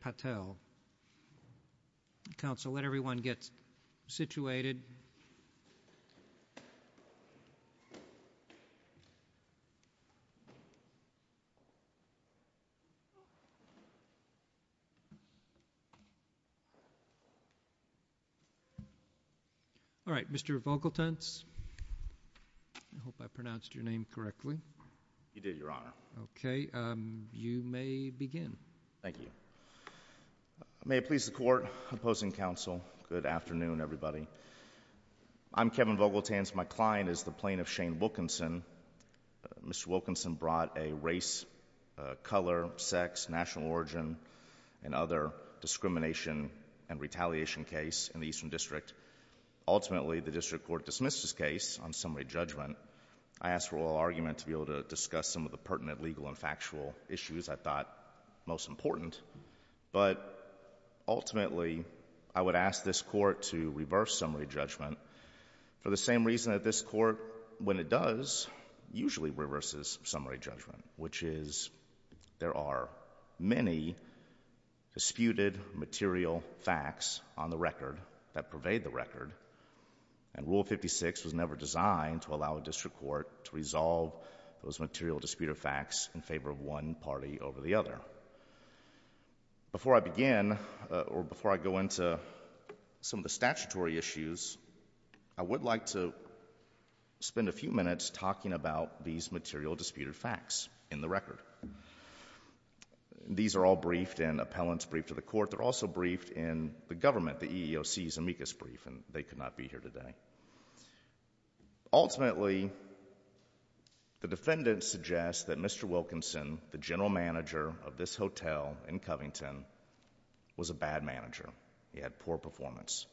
Patel. Council, let everyone get situated. All right, Mr. Vogeltens, I hope I pronounced your name correctly. You did, Your Honor. Okay, you may begin. Thank you. May it please the Court, Opposing Council, good afternoon, everybody. I'm Kevin Vogeltens. My client is the plaintiff, Shane Wilkinson. Mr. Wilkinson brought a race, color, sex, national origin, and other discrimination and retaliation case in the Eastern District. Ultimately, the District Court dismissed his case on summary judgment. I ask for oral argument to be able to discuss some of the pertinent legal and factual issues I thought most important. But ultimately, I would ask this Court to reverse summary judgment for the same reason that this Court, when it does, usually reverses summary judgment, which is there are many disputed material facts on the record that pervade the record, and Rule 56 was never designed to allow a District Court to resolve those material disputed facts in favor of one party over the other. Before I begin, or before I go into some of the statutory issues, I would like to spend a few minutes talking about these material disputed facts in the record. These are all briefed in appellant's brief to the Court. They're also briefed in the government, the Ultimately, the defendant suggests that Mr. Wilkinson, the general manager of this hotel in Covington, was a bad manager. He had poor performance.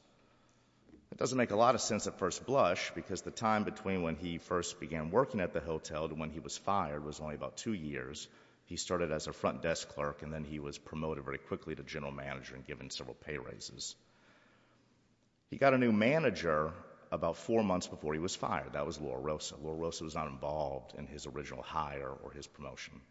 It doesn't make a lot of sense at first blush, because the time between when he first began working at the hotel to when he was fired was only about two years. He started as a front desk clerk, and then he was promoted very quickly to general manager and given several pay raises. He got a new job once before he was fired. That was Laura Rosa. Laura Rosa was not involved in his original hire or his promotion.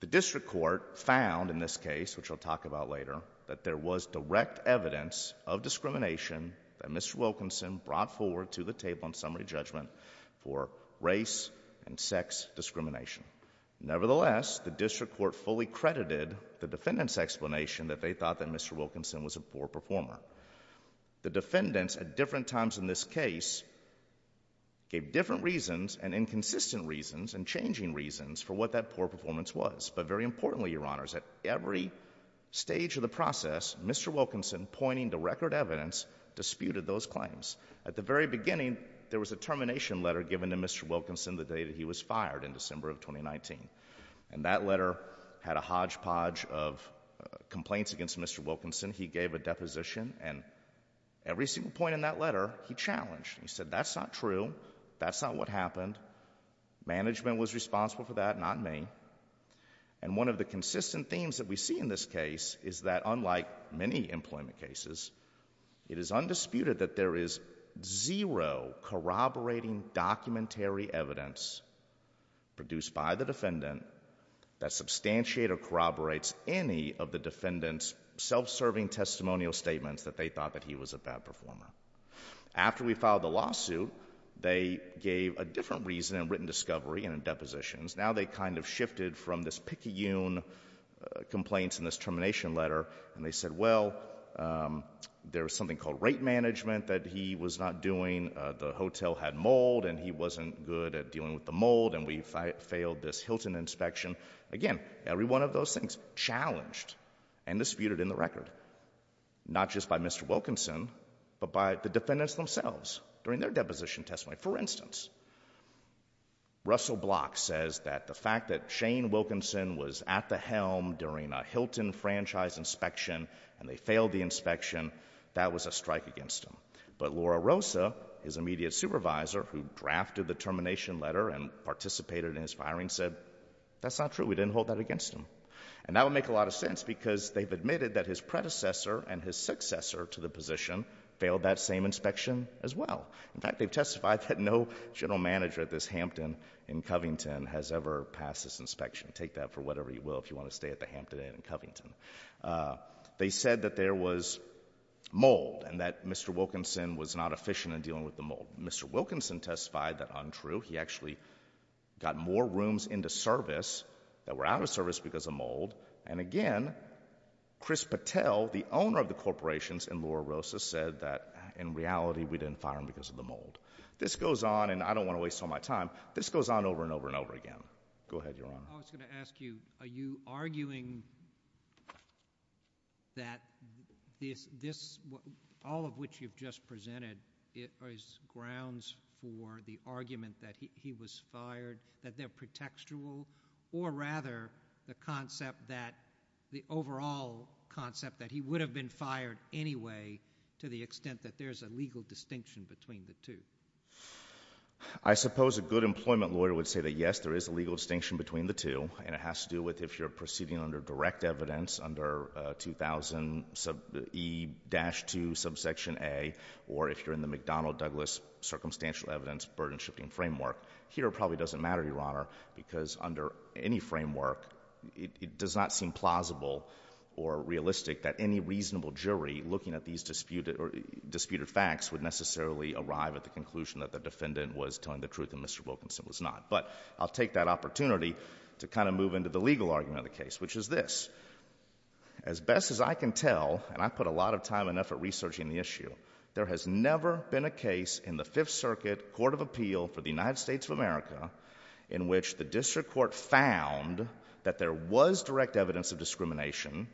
The District Court found in this case, which I'll talk about later, that there was direct evidence of discrimination that Mr. Wilkinson brought forward to the table in summary judgment for race and sex discrimination. Nevertheless, the District Court fully credited the defendant's explanation that they thought that Mr. Wilkinson was a poor performer. The defendants at different times in this case gave different reasons and inconsistent reasons and changing reasons for what that poor performance was. But very importantly, Your Honors, at every stage of the process, Mr. Wilkinson, pointing to record evidence, disputed those claims. At the very beginning, there was a termination letter given to Mr. Wilkinson the day that he was fired in December of 2019. And that letter had a hodgepodge of complaints against Mr. Wilkinson. He gave a deposition, and every single point in that letter, he challenged. He said, that's not true. That's not what happened. Management was responsible for that, not me. And one of the consistent themes that we see in this case is that unlike many employment cases, it is undisputed that there is zero corroborating documentary evidence produced by the defendant that substantiate or corroborates any of the defendant's self-serving testimonial statements that they thought that he was a bad performer. After we filed the lawsuit, they gave a different reason in written discovery and in depositions. Now they kind of shifted from this picayune complaints in this termination letter, and they said, well, there was something called rate management that he was not doing. The fact that Shane Wilkinson was at the helm during a Hilton franchise inspection and they failed the inspection, that was a strike against him. But Laura Rosa, his immediate supervisor who drafted the termination letter and participated in his firing said, that's not true. We didn't hold that against him. And that would make a lot of sense because they've admitted that his predecessor and his successor to the position failed that same inspection as well. In fact, they've testified that no general manager at this Hampton in Covington has ever passed this inspection. Take that for whatever you will if you want to stay at the Hampton Inn in Covington. They said that there was mold and that Mr. Wilkinson was not efficient in dealing with the mold. Mr. Wilkinson testified that untrue. He actually got more rooms into service that were out of service because of mold. And again, Chris Patel, the owner of the corporations and Laura Rosa said that in reality, we didn't fire him because of the mold. This goes on and I don't want to waste all my time. This goes on over and over and over again. Go ahead, Your Honor. I was going to ask you, are you arguing that this, all of which you've just presented, it was grounds for the argument that he was fired, that they're pretextual, or rather the concept that the overall concept that he would have been fired anyway to the extent that there's a legal distinction between the two? I suppose a good employment lawyer would say that, yes, there is a legal distinction between the two, and it has to do with if you're proceeding under direct evidence under 2000 E-2 subsection A, or if you're in the McDonnell-Douglas circumstantial evidence burden-shifting framework. Here it probably doesn't matter, Your Honor, because under any framework, it does not seem plausible or realistic that any reasonable jury looking at these disputed facts would necessarily arrive at the conclusion that the defendant was telling the truth and Mr. Wilkinson was not. But I'll take that opportunity to kind of move into the legal argument of the case, which is this. As best as I can tell, and I put a lot of time and effort researching the issue, there has never been a case in the Fifth Circuit Court of Appeal for the United States of America in which the district court found that there was direct evidence of discrimination,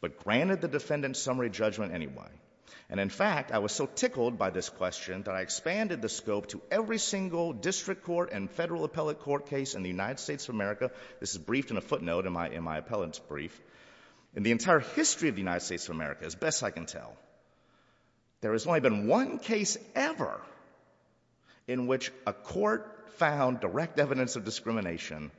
but granted the defendant's summary judgment anyway. And in fact, I was so tickled by this question that I expanded the scope to every single district court and federal appellate court case in the United States of America. This is briefed in a footnote in my appellate's brief. In the entire history of the United States of America, as best as I can tell, there has only been one case ever in which a court found direct evidence of discrimination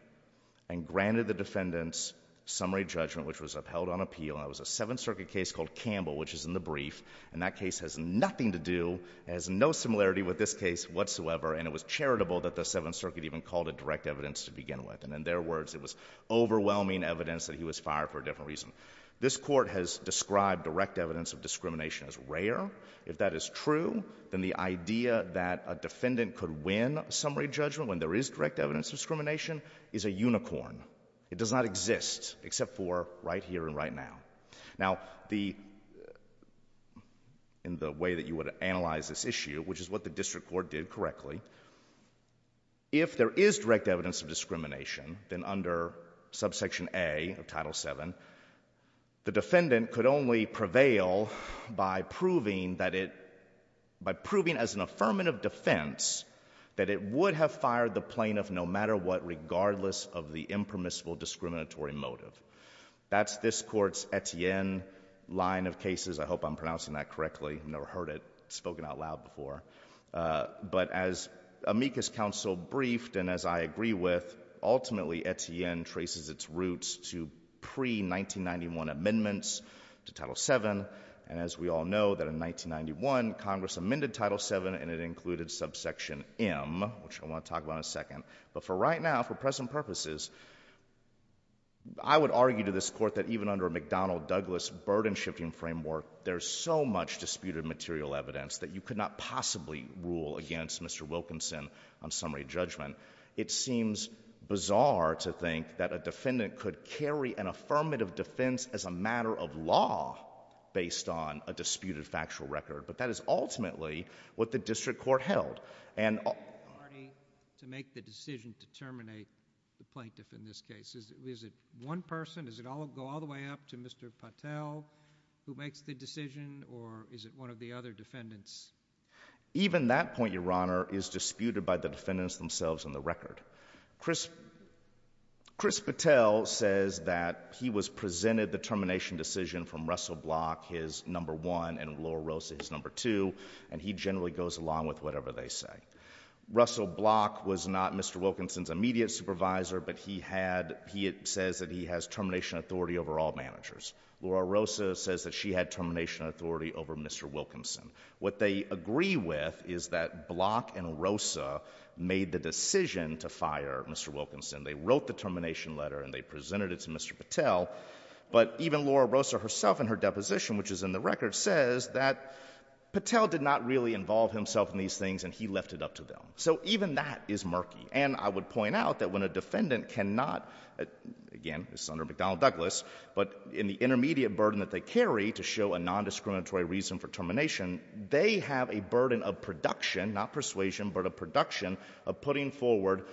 and granted the defendant's summary judgment, which was upheld on appeal. And that was a Seventh Circuit case called Campbell, which is in the brief. And that case has nothing to do, has no similarity with this case whatsoever. And it was charitable that the Seventh Circuit even called it direct evidence to begin with. And in their words, it was overwhelming evidence that he was fired for a different reason. This court has described direct evidence of discrimination as rare. If that is true, then the idea that a defendant could win summary judgment when there is direct evidence of discrimination is a unicorn. It does not exist except for right here and right now. Now, the, in the way that you would analyze this issue, which is what the district court did correctly, if there is direct evidence of discrimination, then under Subsection A of Title VII, the defendant could only prevail by proving that it, by proving as an affirmative defense that it would have fired the plaintiff no matter what, regardless of the impermissible discriminatory motive. That's this court's Etienne line of cases. I hope I'm pronouncing that correctly. I've never heard it spoken out loud before. But as amicus counsel briefed and as I agree with, ultimately Etienne traces its roots to pre-1991 amendments to Title VII. And as we all know, that in 1991, Congress amended Title VII, and it included Subsection M, which I want to talk about in a second. But for right now, for present purposes, I would argue to this court that even under a McDonnell-Douglas burden-shifting framework, there's so much disputed material evidence that you could not possibly rule against Mr. Wilkinson on summary judgment. It seems bizarre to think that a defendant could carry an affirmative defense as a matter of law based on a disputed factual record. But that is ultimately what the district court held. And— …to make the decision to terminate the plaintiff in this case. Is it one person? Does it go all the way up to Mr. Patel, who makes the decision? Or is it one of the other defendants? Even that point, Your Honor, is disputed by the defendants themselves and the record. Chris Patel says that he was presented the termination decision from Russell Block, his number one, and Laura Rosa, his number two, and he generally goes along with whatever they say. Russell Block was not Mr. Wilkinson's immediate supervisor, but he had—he says that he has termination authority over all managers. Laura Rosa says that she had termination authority over Mr. Wilkinson. What they agree with is that Block and Rosa made the decision to fire Mr. Wilkinson. They wrote the termination letter and they presented it to Mr. Patel. But even Laura Rosa herself in her deposition, which is in the record, says that Patel did not really involve himself in these things and he left it up to them. So even that is not true. The defendant cannot—again, this is under McDonnell-Douglas—but in the intermediate burden that they carry to show a nondiscriminatory reason for termination, they have a burden of production, not persuasion, but a production of putting forward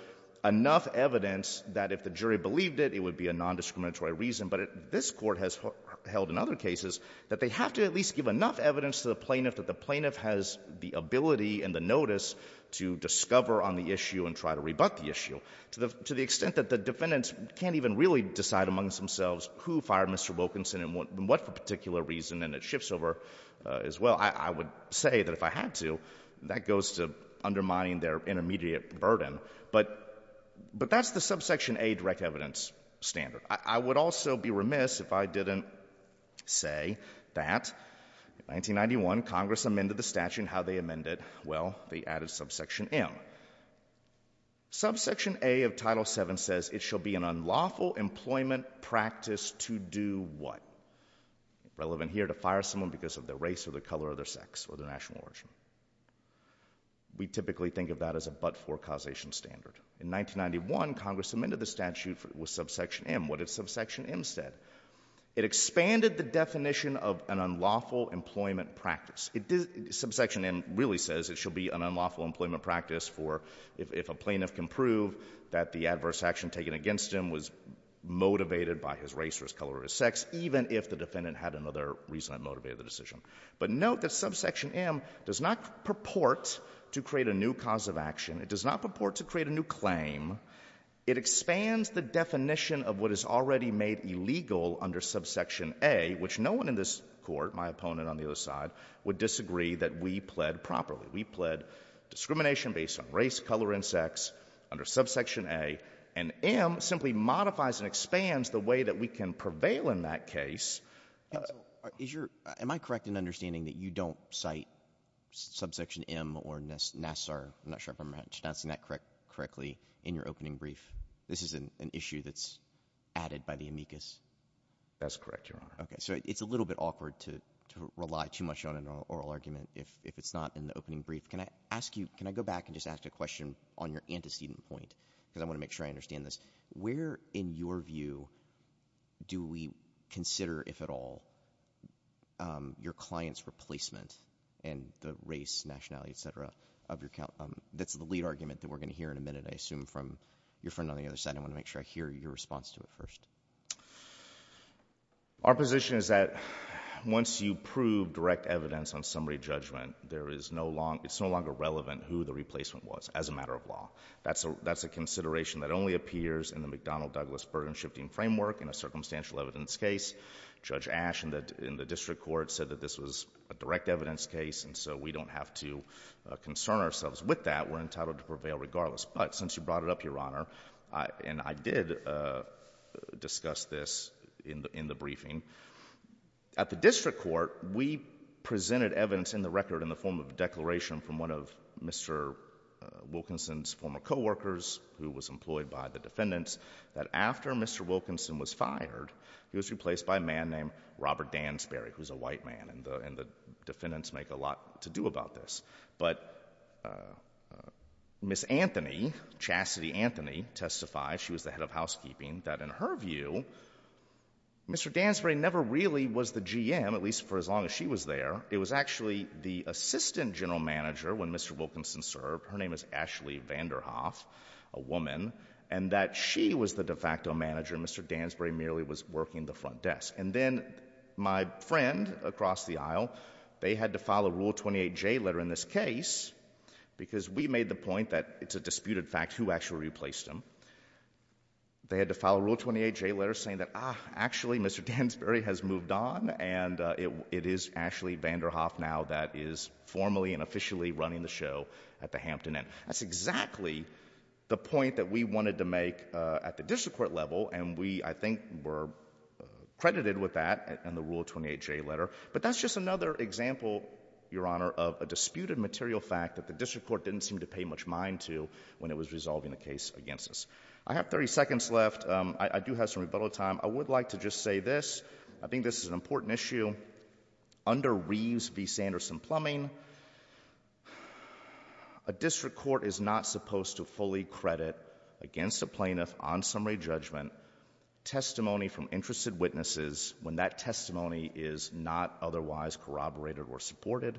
enough evidence that if the jury believed it, it would be a nondiscriminatory reason. But this Court has held in other cases that they have to at least give enough evidence to the plaintiff that the plaintiff has the extent that the defendants can't even really decide amongst themselves who fired Mr. Wilkinson and what particular reason, and it shifts over as well. I would say that if I had to, that goes to undermining their intermediate burden. But that's the subsection A direct evidence standard. I would also be remiss if I didn't say that in 1991, Congress amended the statute. How they amended it? Well, they added subsection M. Subsection A of Title VII says it shall be an unlawful employment practice to do what? Relevant here to fire someone because of their race or the color of their sex or their national origin. We typically think of that as a but-for causation standard. In 1991, Congress amended the statute with subsection M. What did subsection M say? It expanded the definition of an unlawful employment practice. Subsection M really says it shall be an unlawful employment practice for if a plaintiff can prove that the adverse action taken against him was motivated by his race or his color or his sex, even if the defendant had another reason that motivated the decision. But note that subsection M does not purport to create a new cause of action. It does not purport to create a new claim. It expands the definition of what is already made illegal under subsection A, which no one in this court, my opponent on the other side, would disagree that we pled properly. We pled discrimination based on race, color, and sex under subsection A, and M simply modifies and expands the way that we can prevail in that case. Am I correct in understanding that you don't cite subsection M or NASSAR, I'm not sure if I'm pronouncing that correctly, in your opening brief? This is an issue that's added by the amicus. That's correct, Your Honor. Okay, so it's a little bit awkward to rely too much on an oral argument if it's not in the opening brief. Can I ask you, can I go back and just ask a question on your antecedent point, because I want to make sure I understand this. Where, in your view, do we consider, if at all, your client's replacement and the race, nationality, et cetera, of your, that's the lead argument that we're going to hear in a minute, I assume, from your friend on behalf of your client? Our position is that once you prove direct evidence on summary judgment, there is no longer, it's no longer relevant who the replacement was as a matter of law. That's a consideration that only appears in the McDonnell-Douglas burden-shifting framework in a circumstantial evidence case. Judge Asch in the district court said that this was a direct evidence case, and so we don't have to concern ourselves with that. We're entitled to prevail regardless. But since you brought it up, Your Honor, and I did discuss this in the briefing, at the district court, we presented evidence in the record in the form of a declaration from one of Mr. Wilkinson's former co-workers, who was employed by the defendants, that after Mr. Wilkinson was fired, he was replaced by a man named Robert Dansbury, who's a white man, and the defendants make a lot to do about this. But Ms. Anthony, Chastity Anthony, testified, she was the head of housekeeping, that in her view, Mr. Dansbury never really was the GM, at least for as long as she was there. It was actually the assistant general manager when Mr. Wilkinson served, her name is Ashley Vanderhoff, a woman, and that she was the de facto manager and Mr. Dansbury merely was working the front desk. And then my friend across the aisle, they had to file a Rule 28J letter in this case, because we made the point that it's a disputed fact who actually replaced him. They had to file a Rule 28J letter saying that, ah, actually Mr. Dansbury has moved on, and it is Ashley Vanderhoff now that is formally and officially running the show at the Hampton Inn. That's exactly the point that we wanted to make at the district court level, and we, I think, were credited with that in the Rule 28J letter. But that's just another example, Your Honor, of a disputed material fact that the district court didn't seem to pay much mind to when it was resolving the case against us. I have 30 seconds left. I do have some rebuttal time. I would like to just say this. I think this is an important issue. Under Reeves v. Sanderson-Plumbing, a district court is not supposed to fully credit against a plaintiff on summary judgment testimony from interested witnesses when that testimony is not otherwise corroborated or supported.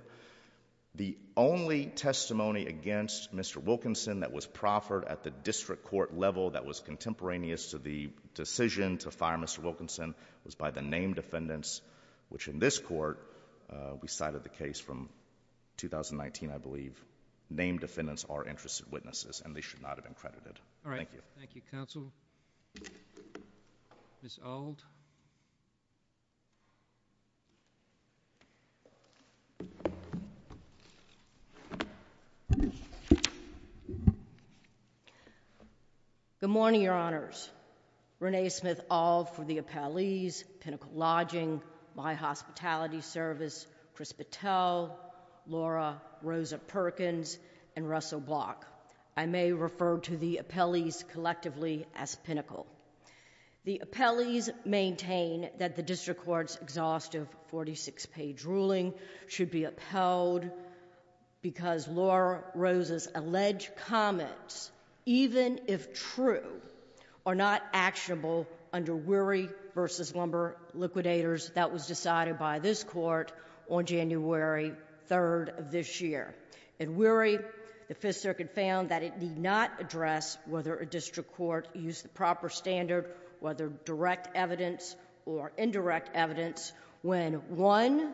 The only testimony against Mr. Wilkinson that was proffered at the district court level that was contemporaneous to the decision to fire Mr. Wilkinson was by the named defendants, which in this court, we cited the case from 2019, I believe. Named defendants are interested witnesses, and they should not have been credited. Thank you. Thank you, Counsel. Ms. Auld? Good morning, Your Honors. Renee Smith-Auld for the Appellees, Pinnacle Lodging, My Hospitality Service, Chris Patel, Laura Rosa Perkins, and Russell Block. I may refer to the Appellees collectively as Pinnacle. The Appellees maintain that the district court's exhaustive 46-page ruling should be upheld because Laura Rosa's alleged comments, even if true, are not actionable under Weary v. Lumber Liquidators that was decided by this court on January 3rd of this year. The Appellees' complaint is that the district court used the proper standard, whether direct evidence or indirect evidence, when one,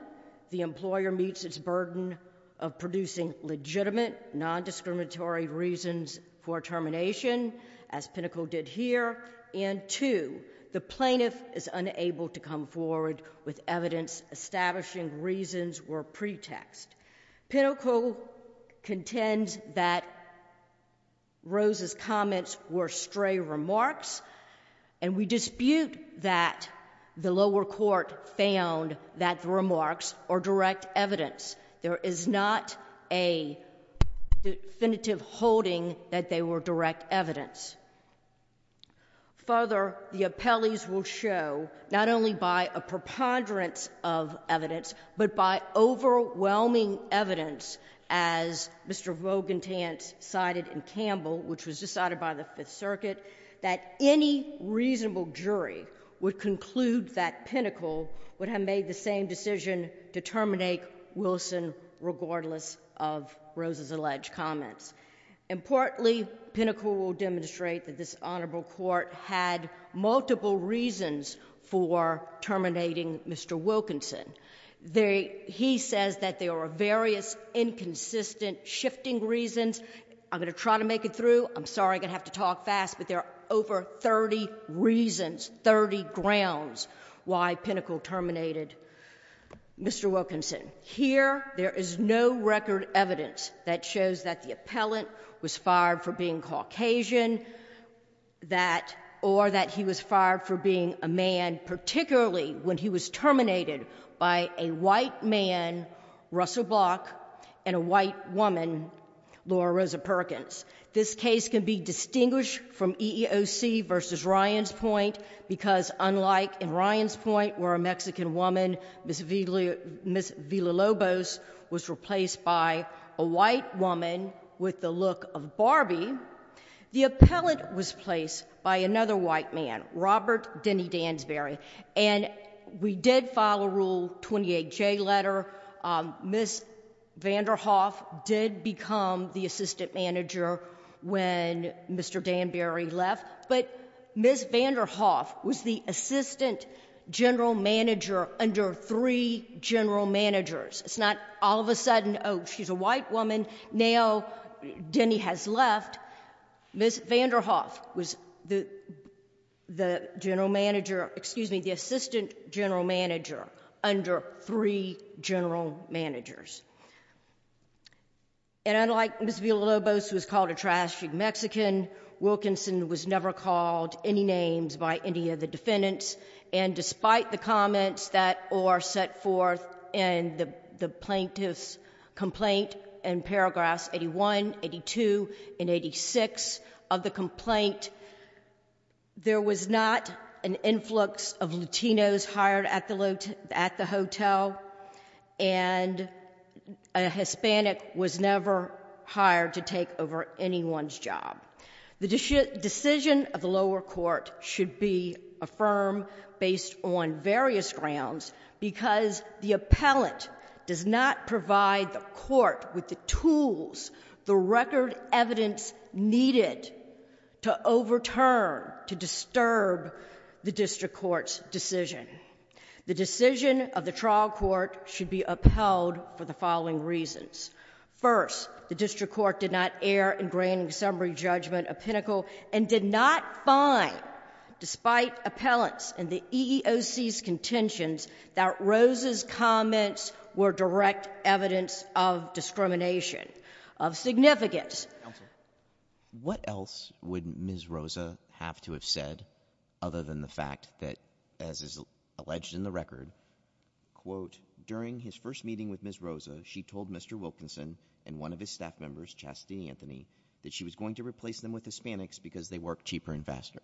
the employer meets its burden of producing legitimate, non-discriminatory reasons for termination, as Pinnacle did here, and two, the plaintiff is unable to come forward with evidence establishing reasons were pretext. Pinnacle contends that Rosa's comments were stray remarks, and we dispute that the lower court found that the remarks are direct evidence. There is not a definitive holding that they were direct evidence. Further, the Appellees will show, not only by a preponderance of evidence, as Mr. Vogentant cited in Campbell, which was decided by the Fifth Circuit, that any reasonable jury would conclude that Pinnacle would have made the same decision to terminate Wilson regardless of Rosa's alleged comments. Importantly, Pinnacle will demonstrate that this honorable court had multiple reasons for terminating Mr. Wilkinson. He says that there are various inconsistent shifting reasons. I'm going to try to make it through. I'm sorry I'm going to have to talk fast, but there are over 30 reasons, 30 grounds why Pinnacle terminated Mr. Wilkinson. Here, there is no record evidence that shows that the appellant was fired for being Caucasian, that, or that he was fired for being a man, particularly when he was terminated by a white man, Russell Block, and a white woman, Laura Rosa Perkins. This case can be distinguished from EEOC v. Ryan's point, because unlike in Ryan's point where a Mexican woman, Ms. Villalobos, was replaced by a white woman with the look of we did file a Rule 28J letter. Ms. Vanderhoff did become the assistant manager when Mr. Danbury left, but Ms. Vanderhoff was the assistant general manager under three general managers. It's not all of a sudden, oh, she's a white woman, now Denny has left. Ms. Vanderhoff was the assistant general manager under three general managers. Unlike Ms. Villalobos, who was called a trashy Mexican, Wilkinson was never called any names by any of the defendants, and despite the comments that were set forth in the plaintiff's complaint in paragraphs 81, 82, and 86 of the complaint, there was not an influx of Latinos hired at the hotel, and a Hispanic was never hired to take over anyone's job. The decision of the lower court should be affirmed based on various grounds, because the appellant does not provide the tools, the record evidence needed to overturn, to disturb the district court's decision. The decision of the trial court should be upheld for the following reasons. First, the district court did not err in granting summary judgment a pinnacle, and did not find, despite appellants and the EEOC's contentions, that Rose's comments were direct evidence of discrimination. What else would Ms. Rosa have to have said, other than the fact that, as is alleged in the record, quote, during his first meeting with Ms. Rosa, she told Mr. Wilkinson and one of his staff members, Chastity Anthony, that she was going to replace them with Hispanics because they work cheaper and faster.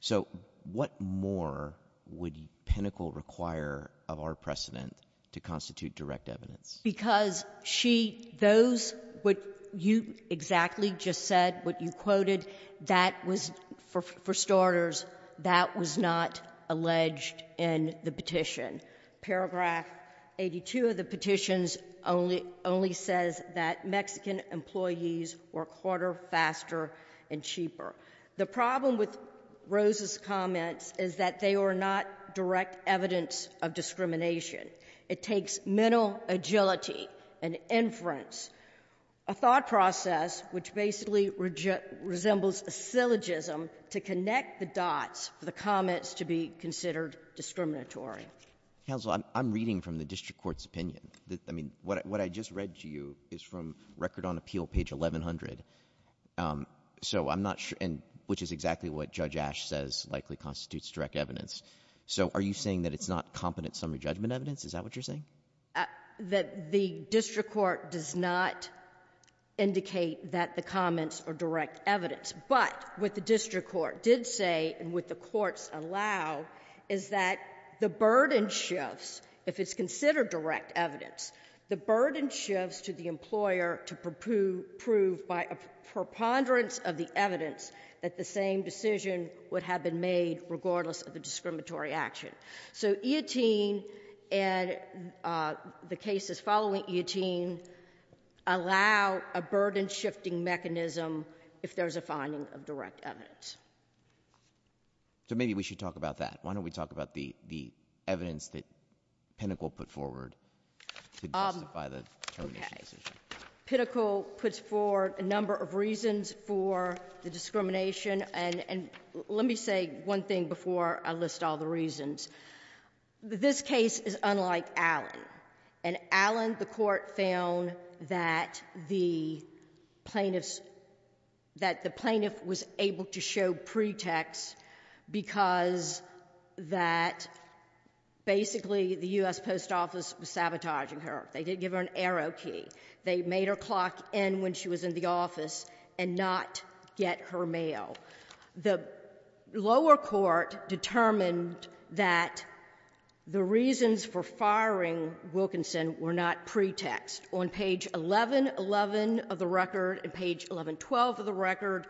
So what more would pinnacle require of our precedent to constitute direct evidence? Because she, those, what you exactly just said, what you quoted, that was, for starters, that was not alleged in the petition. Paragraph 82 of the petitions only says that Mexican employees work harder, faster, and cheaper. The problem with Rose's comments is that they are, in fact, a threat to the district court's ability to assert its own validity and inference, a thought process which basically resembles a syllogism to connect the dots for the comments to be considered discriminatory. Counsel, I'm reading from the district court's opinion. I mean, what I just read to you is from Record on Appeal, page 1100. So I'm not sure, and which is exactly what Judge Ashe says likely constitutes direct evidence. So are you saying that it's not competent summary judgment evidence? Is that what you're saying? That the district court does not indicate that the comments are direct evidence. But what the district court did say and what the courts allow is that the burden shifts, if it's considered direct evidence, the burden shifts to the employer to prove by a preponderance of the evidence that the same decision would have been made regardless of the discriminatory action. So EATEEN and the cases following EATEEN allow a burden-shifting mechanism if there's a finding of direct evidence. So maybe we should talk about that. Why don't we talk about the evidence that Pinnacle put forward to justify the termination decision? Pinnacle puts forward a number of reasons for the discrimination. And let me say one thing before I list all the reasons. This case is unlike Allen. And Allen, the court found that the plaintiffs, that the plaintiff was able to show pretext because that basically the U.S. Post Office was sabotaging her. They didn't give her an arrow key. They made her clock end when she was in the office and not get her mail. The lower court determined that the reasons for firing Wilkinson were not pretext. On page 1111 of the record and page 1112 of the record,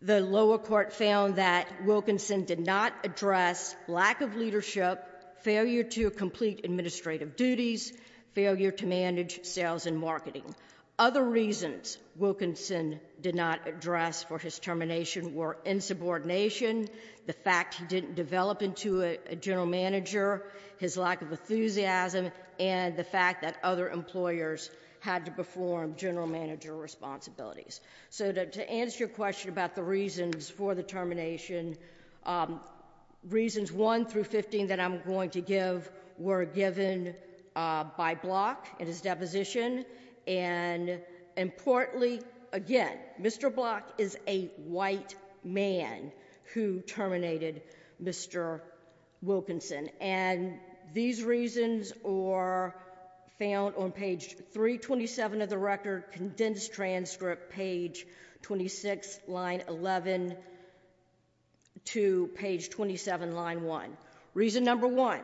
the lower court found that Wilkinson did not address lack of leadership, failure to complete administrative duties, failure to manage sales and marketing. Other reasons Wilkinson did not address for his termination were insubordination, the fact he didn't develop into a general manager, his lack of enthusiasm, and the fact that other employers had to perform general manager responsibilities. So to answer your question about the reasons for the termination, reasons 1 through 15 that I'm going to give were given by Block in his deposition. And importantly, again, Mr. Block is a white man who terminated Mr. Wilkinson. And these reasons are found on page 327 of the record, condensed transcript, page 26, line 11 to page 27, line 1. Reason number 1,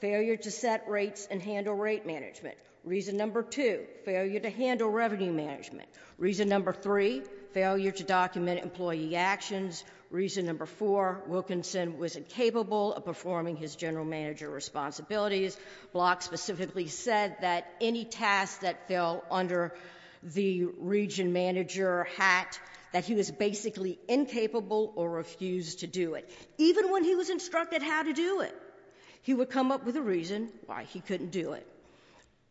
failure to set rates and handle rate management. Reason number 2, failure to handle revenue management. Reason number 3, failure to document employee actions. Reason number 4, Wilkinson was incapable of performing his general manager responsibilities. Block specifically said that any task that fell under the region manager hat, that he was basically incapable or refused to do it. Even when he was instructed how to do it, he would come up with a reason why he couldn't do it.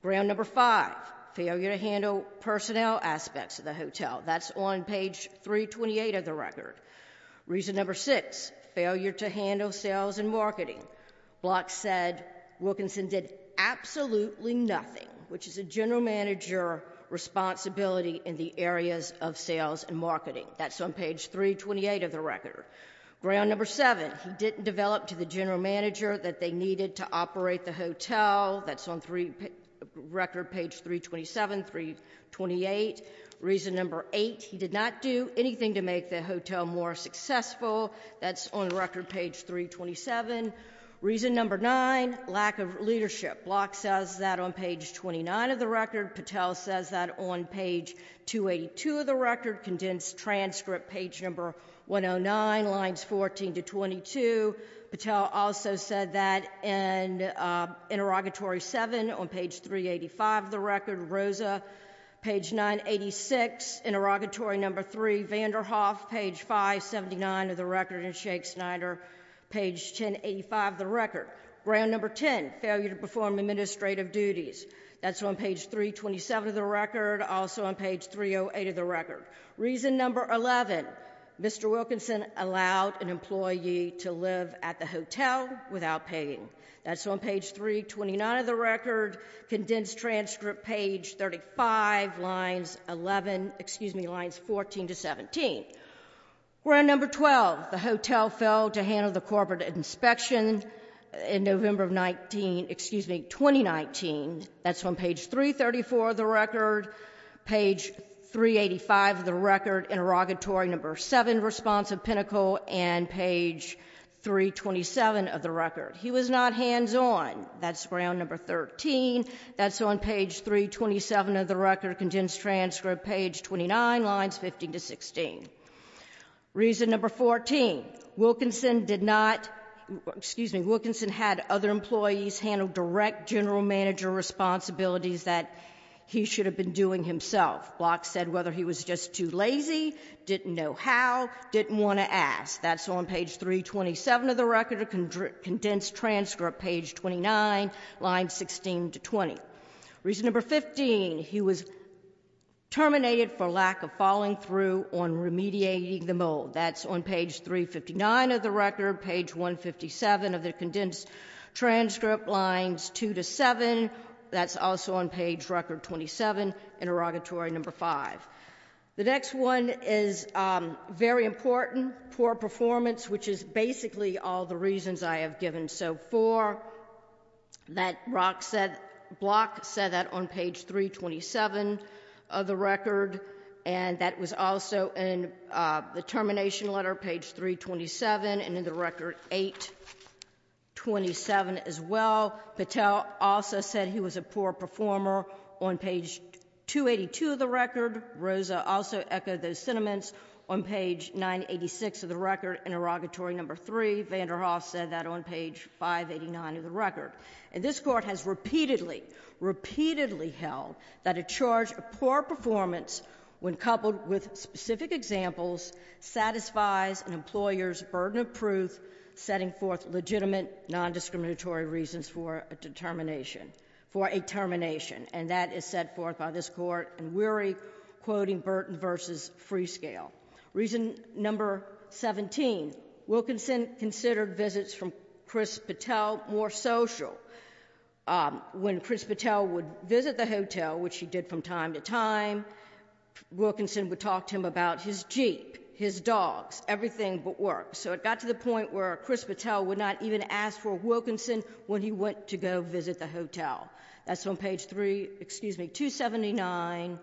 Ground number 5, failure to handle personnel aspects of the hotel. That's on page 328 of the record. Reason number 6, failure to handle sales and marketing. Block said Wilkinson did absolutely nothing, which is a general manager responsibility in the areas of sales and marketing. That's on page 328 of the record. Ground number 7, he didn't develop to the general manager that they needed to operate the hotel. That's on record page 327, 328. Reason number 8, he did not do anything to make the hotel more successful. That's on record page 327. Reason number 9, lack of leadership. Block says that on page 29 of the record. Patel says that on page 282 of the record. Condensed transcript, page number 109, lines 14 to 22. Patel also said that in interrogatory 7 on page 385 of the record. Rosa, page 986, interrogatory number 3. Vanderhoff, page 579 of the record. And Shake Snyder, page 1085 of the record. Ground number 10, failure to perform administrative duties. That's on page 327 of the record. Also on page 308 of the record. Reason number 11, Mr. Wilkinson allowed an employee to live at the hotel without paying. That's on page 329 of the record. Condensed transcript, page 35, lines 11, excuse me, lines 14 to 17. Ground number 12, the hotel failed to handle the corporate inspection in November of 19, excuse me, 2019. That's on page 334 of the record. Page 385 of the record. Interrogatory number 7, response of Pinnacle. And page 327 of the record. He was not hands-on. That's ground number 13. That's on page 327 of the record. Condensed transcript, page 29, lines 15 to 16. Reason number 14, Wilkinson did not, excuse me, Wilkinson had other employees handle direct general manager responsibilities that he should have been doing himself. Block said whether he was just too lazy, didn't know how, didn't want to ask. That's on page 327 of the record. Condensed transcript, page 29, lines 16 to 20. Reason number 15, he was terminated for lack of following through on remediating the mold. That's on page 359 of the record. Page 157 of the condensed transcript, lines 2 to 7. That's also on page record 27. Interrogatory number 5. The next one is very important. Poor performance, which is basically all the reasons I have given so far. That Block said that on page 327 of the record. And that was also in the termination letter, page 327, and in the record 827 as well. Patel also said he was a poor performer on page 282 of the record. Rosa also echoed those sentiments on page 986 of the record. Interrogatory number 3, Vanderhoff said that on page 589 of the record. And this Court has repeatedly, repeatedly held that a charge of poor performance when coupled with specific examples satisfies an employer's burden of proof, setting forth legitimate, non-discriminatory reasons for a termination. And that is set forth by this Court in Weary, quoting Burton v. Freescale. Reason number 17, Wilkinson considered visits from Chris Patel more social. When Chris Patel would visit the hotel, which he did from time to time, Wilkinson would talk to him about his jeep, his dogs, everything but work. So it got to the point where Chris Patel would not even ask for Wilkinson when he went to go visit the hotel. That's on page 279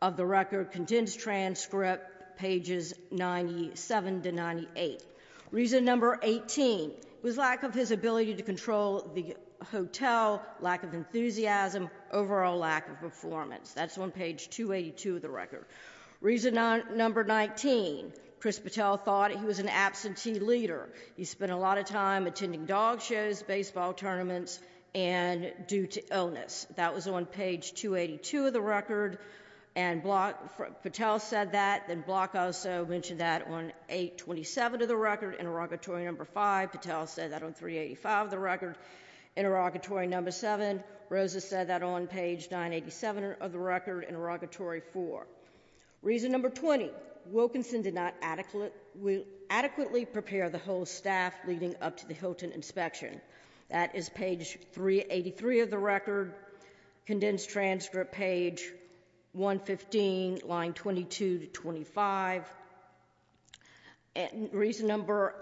of the record, condensed transcript, pages 97 to 98. Reason number 18 was lack of his ability to control the hotel, lack of enthusiasm, overall lack of performance. That's on page 282 of the record. Reason number 19, Chris Patel thought he was an absentee leader. He spent a lot of time attending dog shows, baseball tournaments, and due to illness. That was on page 282 of the record, and Patel said that. Then Block also mentioned that on page 827 of the record, interrogatory number 5. Patel said that on page 385 of the record, interrogatory number 7. Rosa said that on page 987 of the record, interrogatory 4. Reason number 20, Wilkinson did not adequately prepare the whole staff leading up to the Hilton inspection. That is page 383 of the record, condensed transcript page 115, line 22 to 25. Reason number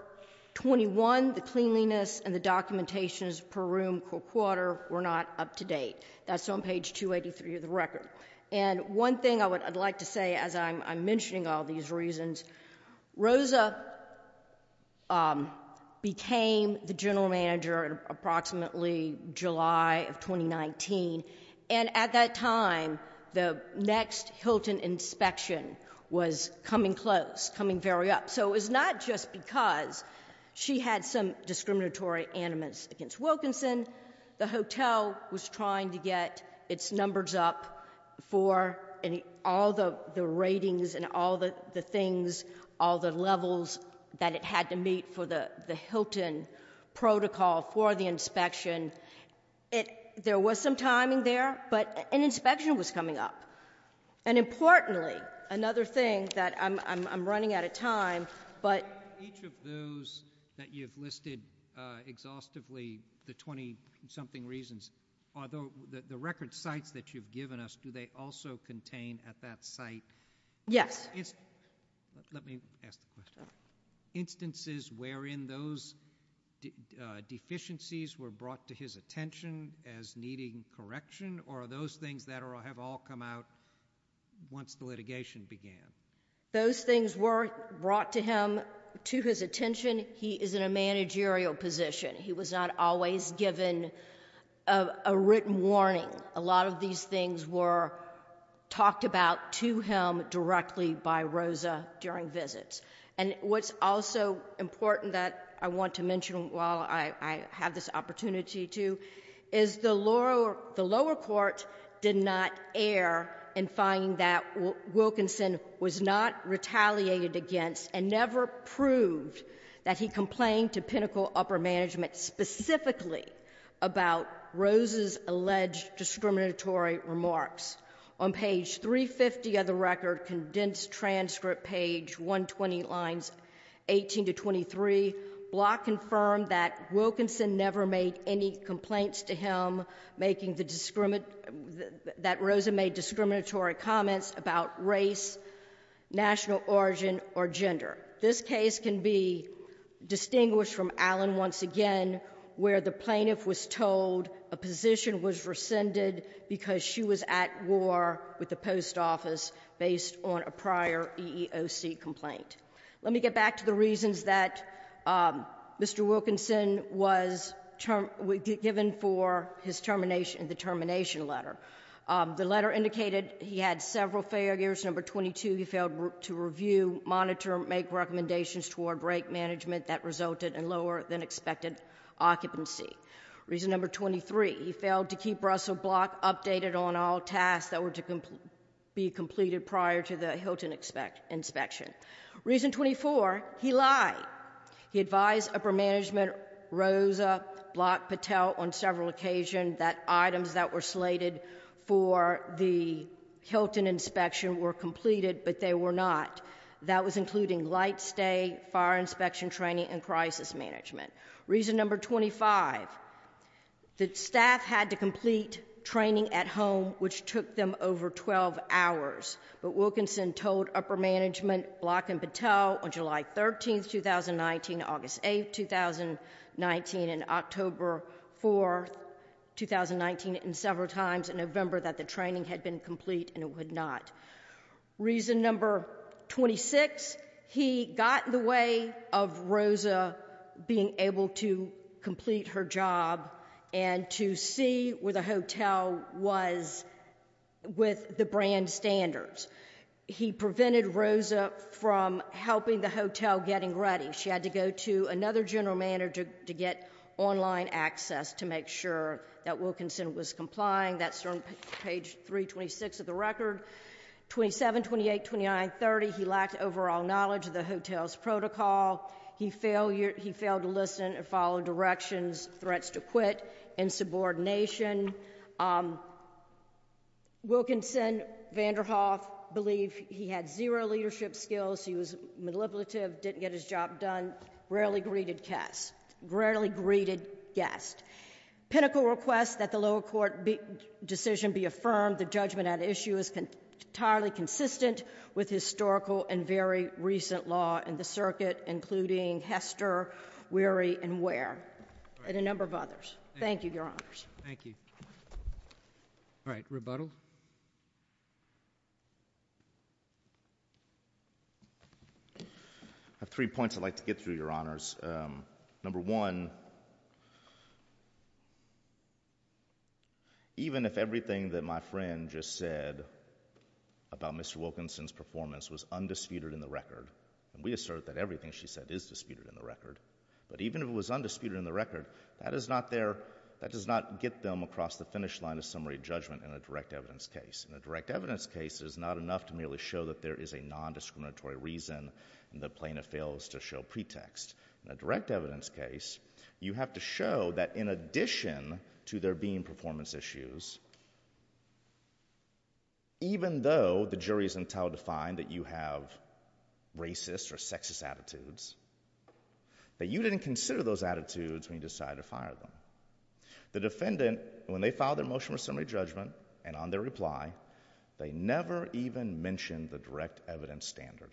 21, the cleanliness and the documentations per room per quarter were not up to date. That's on page 283 of the record. One thing I would like to say as I'm mentioning all these reasons, Rosa became the general manager approximately July of 2019, and at that time the next Hilton inspection was coming close, coming very up. So it was not just because she had some discriminatory animus against Wilkinson. The hotel was trying to get its numbers up for all the ratings and all the things, all the levels that it had to meet for the Hilton protocol for the inspection. There was some timing there, but an inspection was coming up. And importantly, another thing that I'm running out of time, but... Each of those that you've listed exhaustively, the 20-something reasons, the record sites that you've given us, do they also contain at that site instances wherein those deficiencies were brought to his attention as needing correction, or are those things that have all come out once the litigation began? Those things were brought to him, to his attention. He is in a managerial position. He was not always given a written warning. A lot of these things were talked about to him directly by Rosa during visits. And what's also important that I want to mention while I have this opportunity, too, is the lower court did not err in finding that Wilkinson was not retaliated against and never proved that he complained to Pinnacle Upper Management specifically about Rosa's alleged discriminatory remarks. On page 350 of the record, condensed transcript, page 358, any complaints to him that Rosa made discriminatory comments about race, national origin, or gender. This case can be distinguished from Allen once again, where the plaintiff was told a position was rescinded because she was at war with the post office based on a prior EEOC complaint. Let me get back to the reasons that Mr. Wilkinson was given for his termination in the termination letter. The letter indicated he had several failures. Number 22, he failed to review, monitor, make recommendations toward rate management that resulted in lower than expected occupancy. Reason number 23, he failed to keep Russell Block updated on all tasks that were to be completed prior to the Hilton inspection. Reason 24, he lied. He advised Upper Management, Rosa, Block, Patel on several occasions that items that were slated for the Hilton inspection were completed, but they were not. That was including light stay, fire inspection training, and crisis management. Reason number 25, the staff had to complete training at home, which took them over 12 hours, but Wilkinson told Upper Management, Block, and Patel on July 13, 2019, August 8, 2019, and October 4, 2019, and several times in November that the training had been complete and it would not. Reason number 26, he got in the way of Rosa being able to complete her job and to see where the hotel was located with the brand standards. He prevented Rosa from helping the hotel getting ready. She had to go to another general manager to get online access to make sure that Wilkinson was complying. That's on page 326 of the record. 27, 28, 29, 30, he lacked overall knowledge of the hotel's protocol. He failed to listen and follow directions, threats to quit, and so forth. Wilkinson Vanderhoff believed he had zero leadership skills. He was manipulative, didn't get his job done, rarely greeted guests. Pinnacle requests that the lower court decision be affirmed. The judgment at issue is entirely consistent with historical and very recent law in the circuit, including Hester, Weary, and Ware, and a number of others. Thank you, Your Honors. Thank you. All right, rebuttal? I have three points I'd like to get through Your Honors. Number one, even if everything that my friend just said about Mr. Wilkinson's performance was undisputed in the record, and we assert that everything she said is undisputed in the record, that does not get them across the finish line of summary judgment in a direct evidence case. In a direct evidence case, it is not enough to merely show that there is a nondiscriminatory reason and the plaintiff fails to show pretext. In a direct evidence case, you have to show that in addition to there being performance issues, even though the jury is entitled to find that you have racist or sexist attitudes, that you didn't consider those attitudes when you decided to fire them. The defendant, when they filed their motion for summary judgment and on their reply, they never even mentioned the direct evidence standard,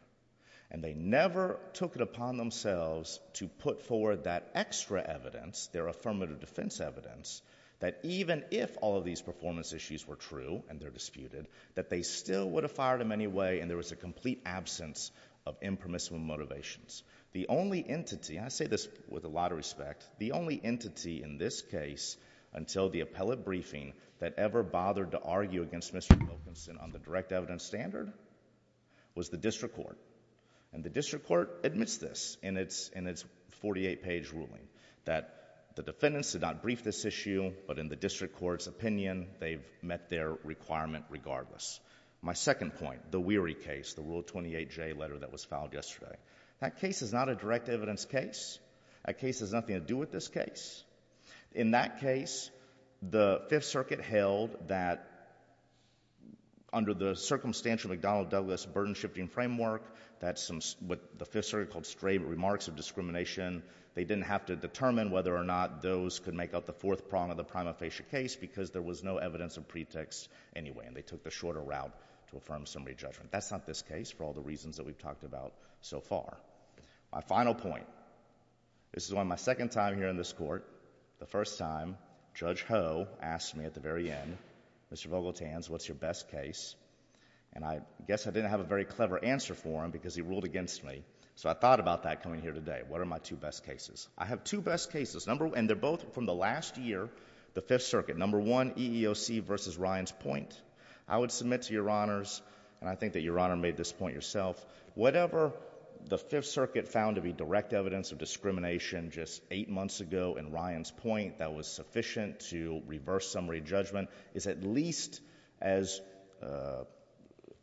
and they never took it upon themselves to put forward that extra evidence, their affirmative defense evidence, that even if all of these performance issues were true and they're disputed, that they still would have fired them anyway and there was a complete absence of impermissible motivations. The only entity, and I say this with a lot of respect, the only entity in this case until the appellate briefing that ever bothered to argue against Mr. Wilkinson on the direct evidence standard was the district court, and the district court admits this in its 48-page ruling, that the defendants did not brief this issue, but in the district court's opinion, they've met their requirement regardless. My second point, the weary case, the Rule 28J letter that was filed yesterday, that case is not a direct evidence case. That case has nothing to do with this case. In that case, the Fifth Circuit held that under the circumstantial McDonnell Douglas burden shifting framework, that some, what the Fifth Circuit called stray remarks of discrimination, they didn't have to determine whether or not those could make up the fourth prong of the case. They took the shorter route to affirm summary judgment. That's not this case for all the reasons that we've talked about so far. My final point, this is on my second time here in this Court, the first time, Judge Ho asked me at the very end, Mr. Vogeltans, what's your best case? And I guess I didn't have a very clever answer for him because he ruled against me, so I thought about that coming here today. What are my two best cases? I have two best cases, and they're both from the last year, the Fifth Circuit. Number one, the EEOC v. Ryan's Point. I would submit to Your Honors, and I think that Your Honor made this point yourself, whatever the Fifth Circuit found to be direct evidence of discrimination just eight months ago in Ryan's Point that was sufficient to reverse summary judgment is at least as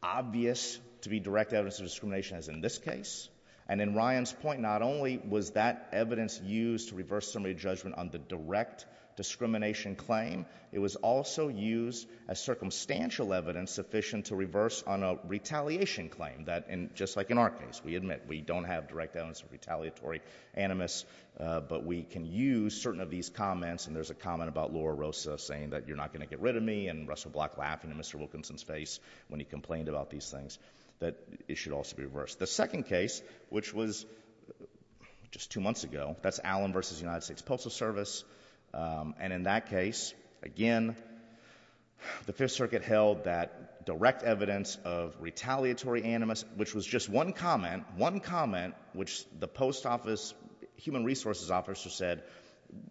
obvious to be direct evidence of discrimination as in this case. And in Ryan's Point, not only was that evidence used to reverse summary judgment on the direct discrimination claim, it was also used as circumstantial evidence sufficient to reverse on a retaliation claim that, just like in our case, we admit we don't have direct evidence of retaliatory animus, but we can use certain of these comments, and there's a comment about Laura Rosa saying that you're not going to get rid of me and Russell Block laughing in Mr. Wilkinson's face when he complained about these things, that it should also be reversed. The second case, which was just two months ago, that's Allen v. United States Postal Service, and in that case, again, the Fifth Circuit held that direct evidence of retaliatory animus, which was just one comment, one comment, which the Post Office, Human Resources Officer said,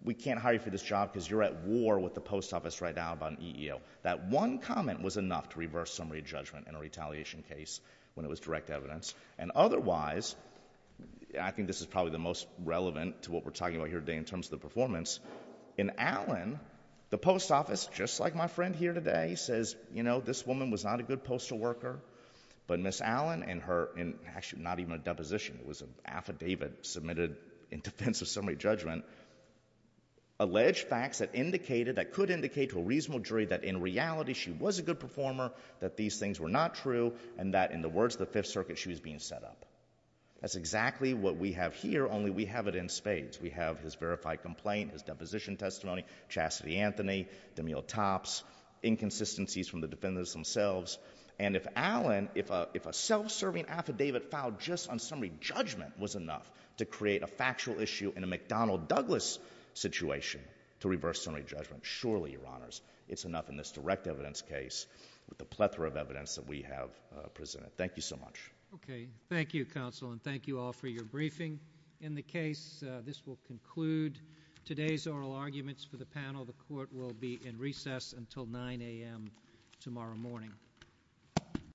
we can't hire you for this job because you're at war with the Post Office right now about an EEO. That one comment was enough to reverse summary judgment in a retaliation case when it was direct evidence, and otherwise, I think this is probably the most relevant to what we're talking about here today in terms of the performance. In Allen, the Post Office, just like my friend here today, says, you know, this woman was not a good postal worker, but Ms. Allen and her—actually, not even a deposition, it was an affidavit submitted in defense of summary judgment—alleged facts that indicated, that could indicate to a reasonable jury that in reality, she was a good performer, that these things were not true, and that in the words of the Fifth Circuit, she was being set up. That's exactly what we have here, only we have it in spades. We have his verified complaint, his deposition testimony, Chassidy-Anthony, DeMille Topps, inconsistencies from the defendants themselves, and if Allen, if a self-serving affidavit filed just on summary judgment was enough to create a factual issue in a McDonnell-Douglas situation to reverse summary judgment, surely, Your Honors, it's enough in this direct evidence case with the plethora of evidence that we have presented. Thank you so much. Okay. Thank you, Counsel, and thank you all for your briefing. In the case, this will conclude today's oral arguments for the panel. The Court will be in recess until 9 a.m. tomorrow morning.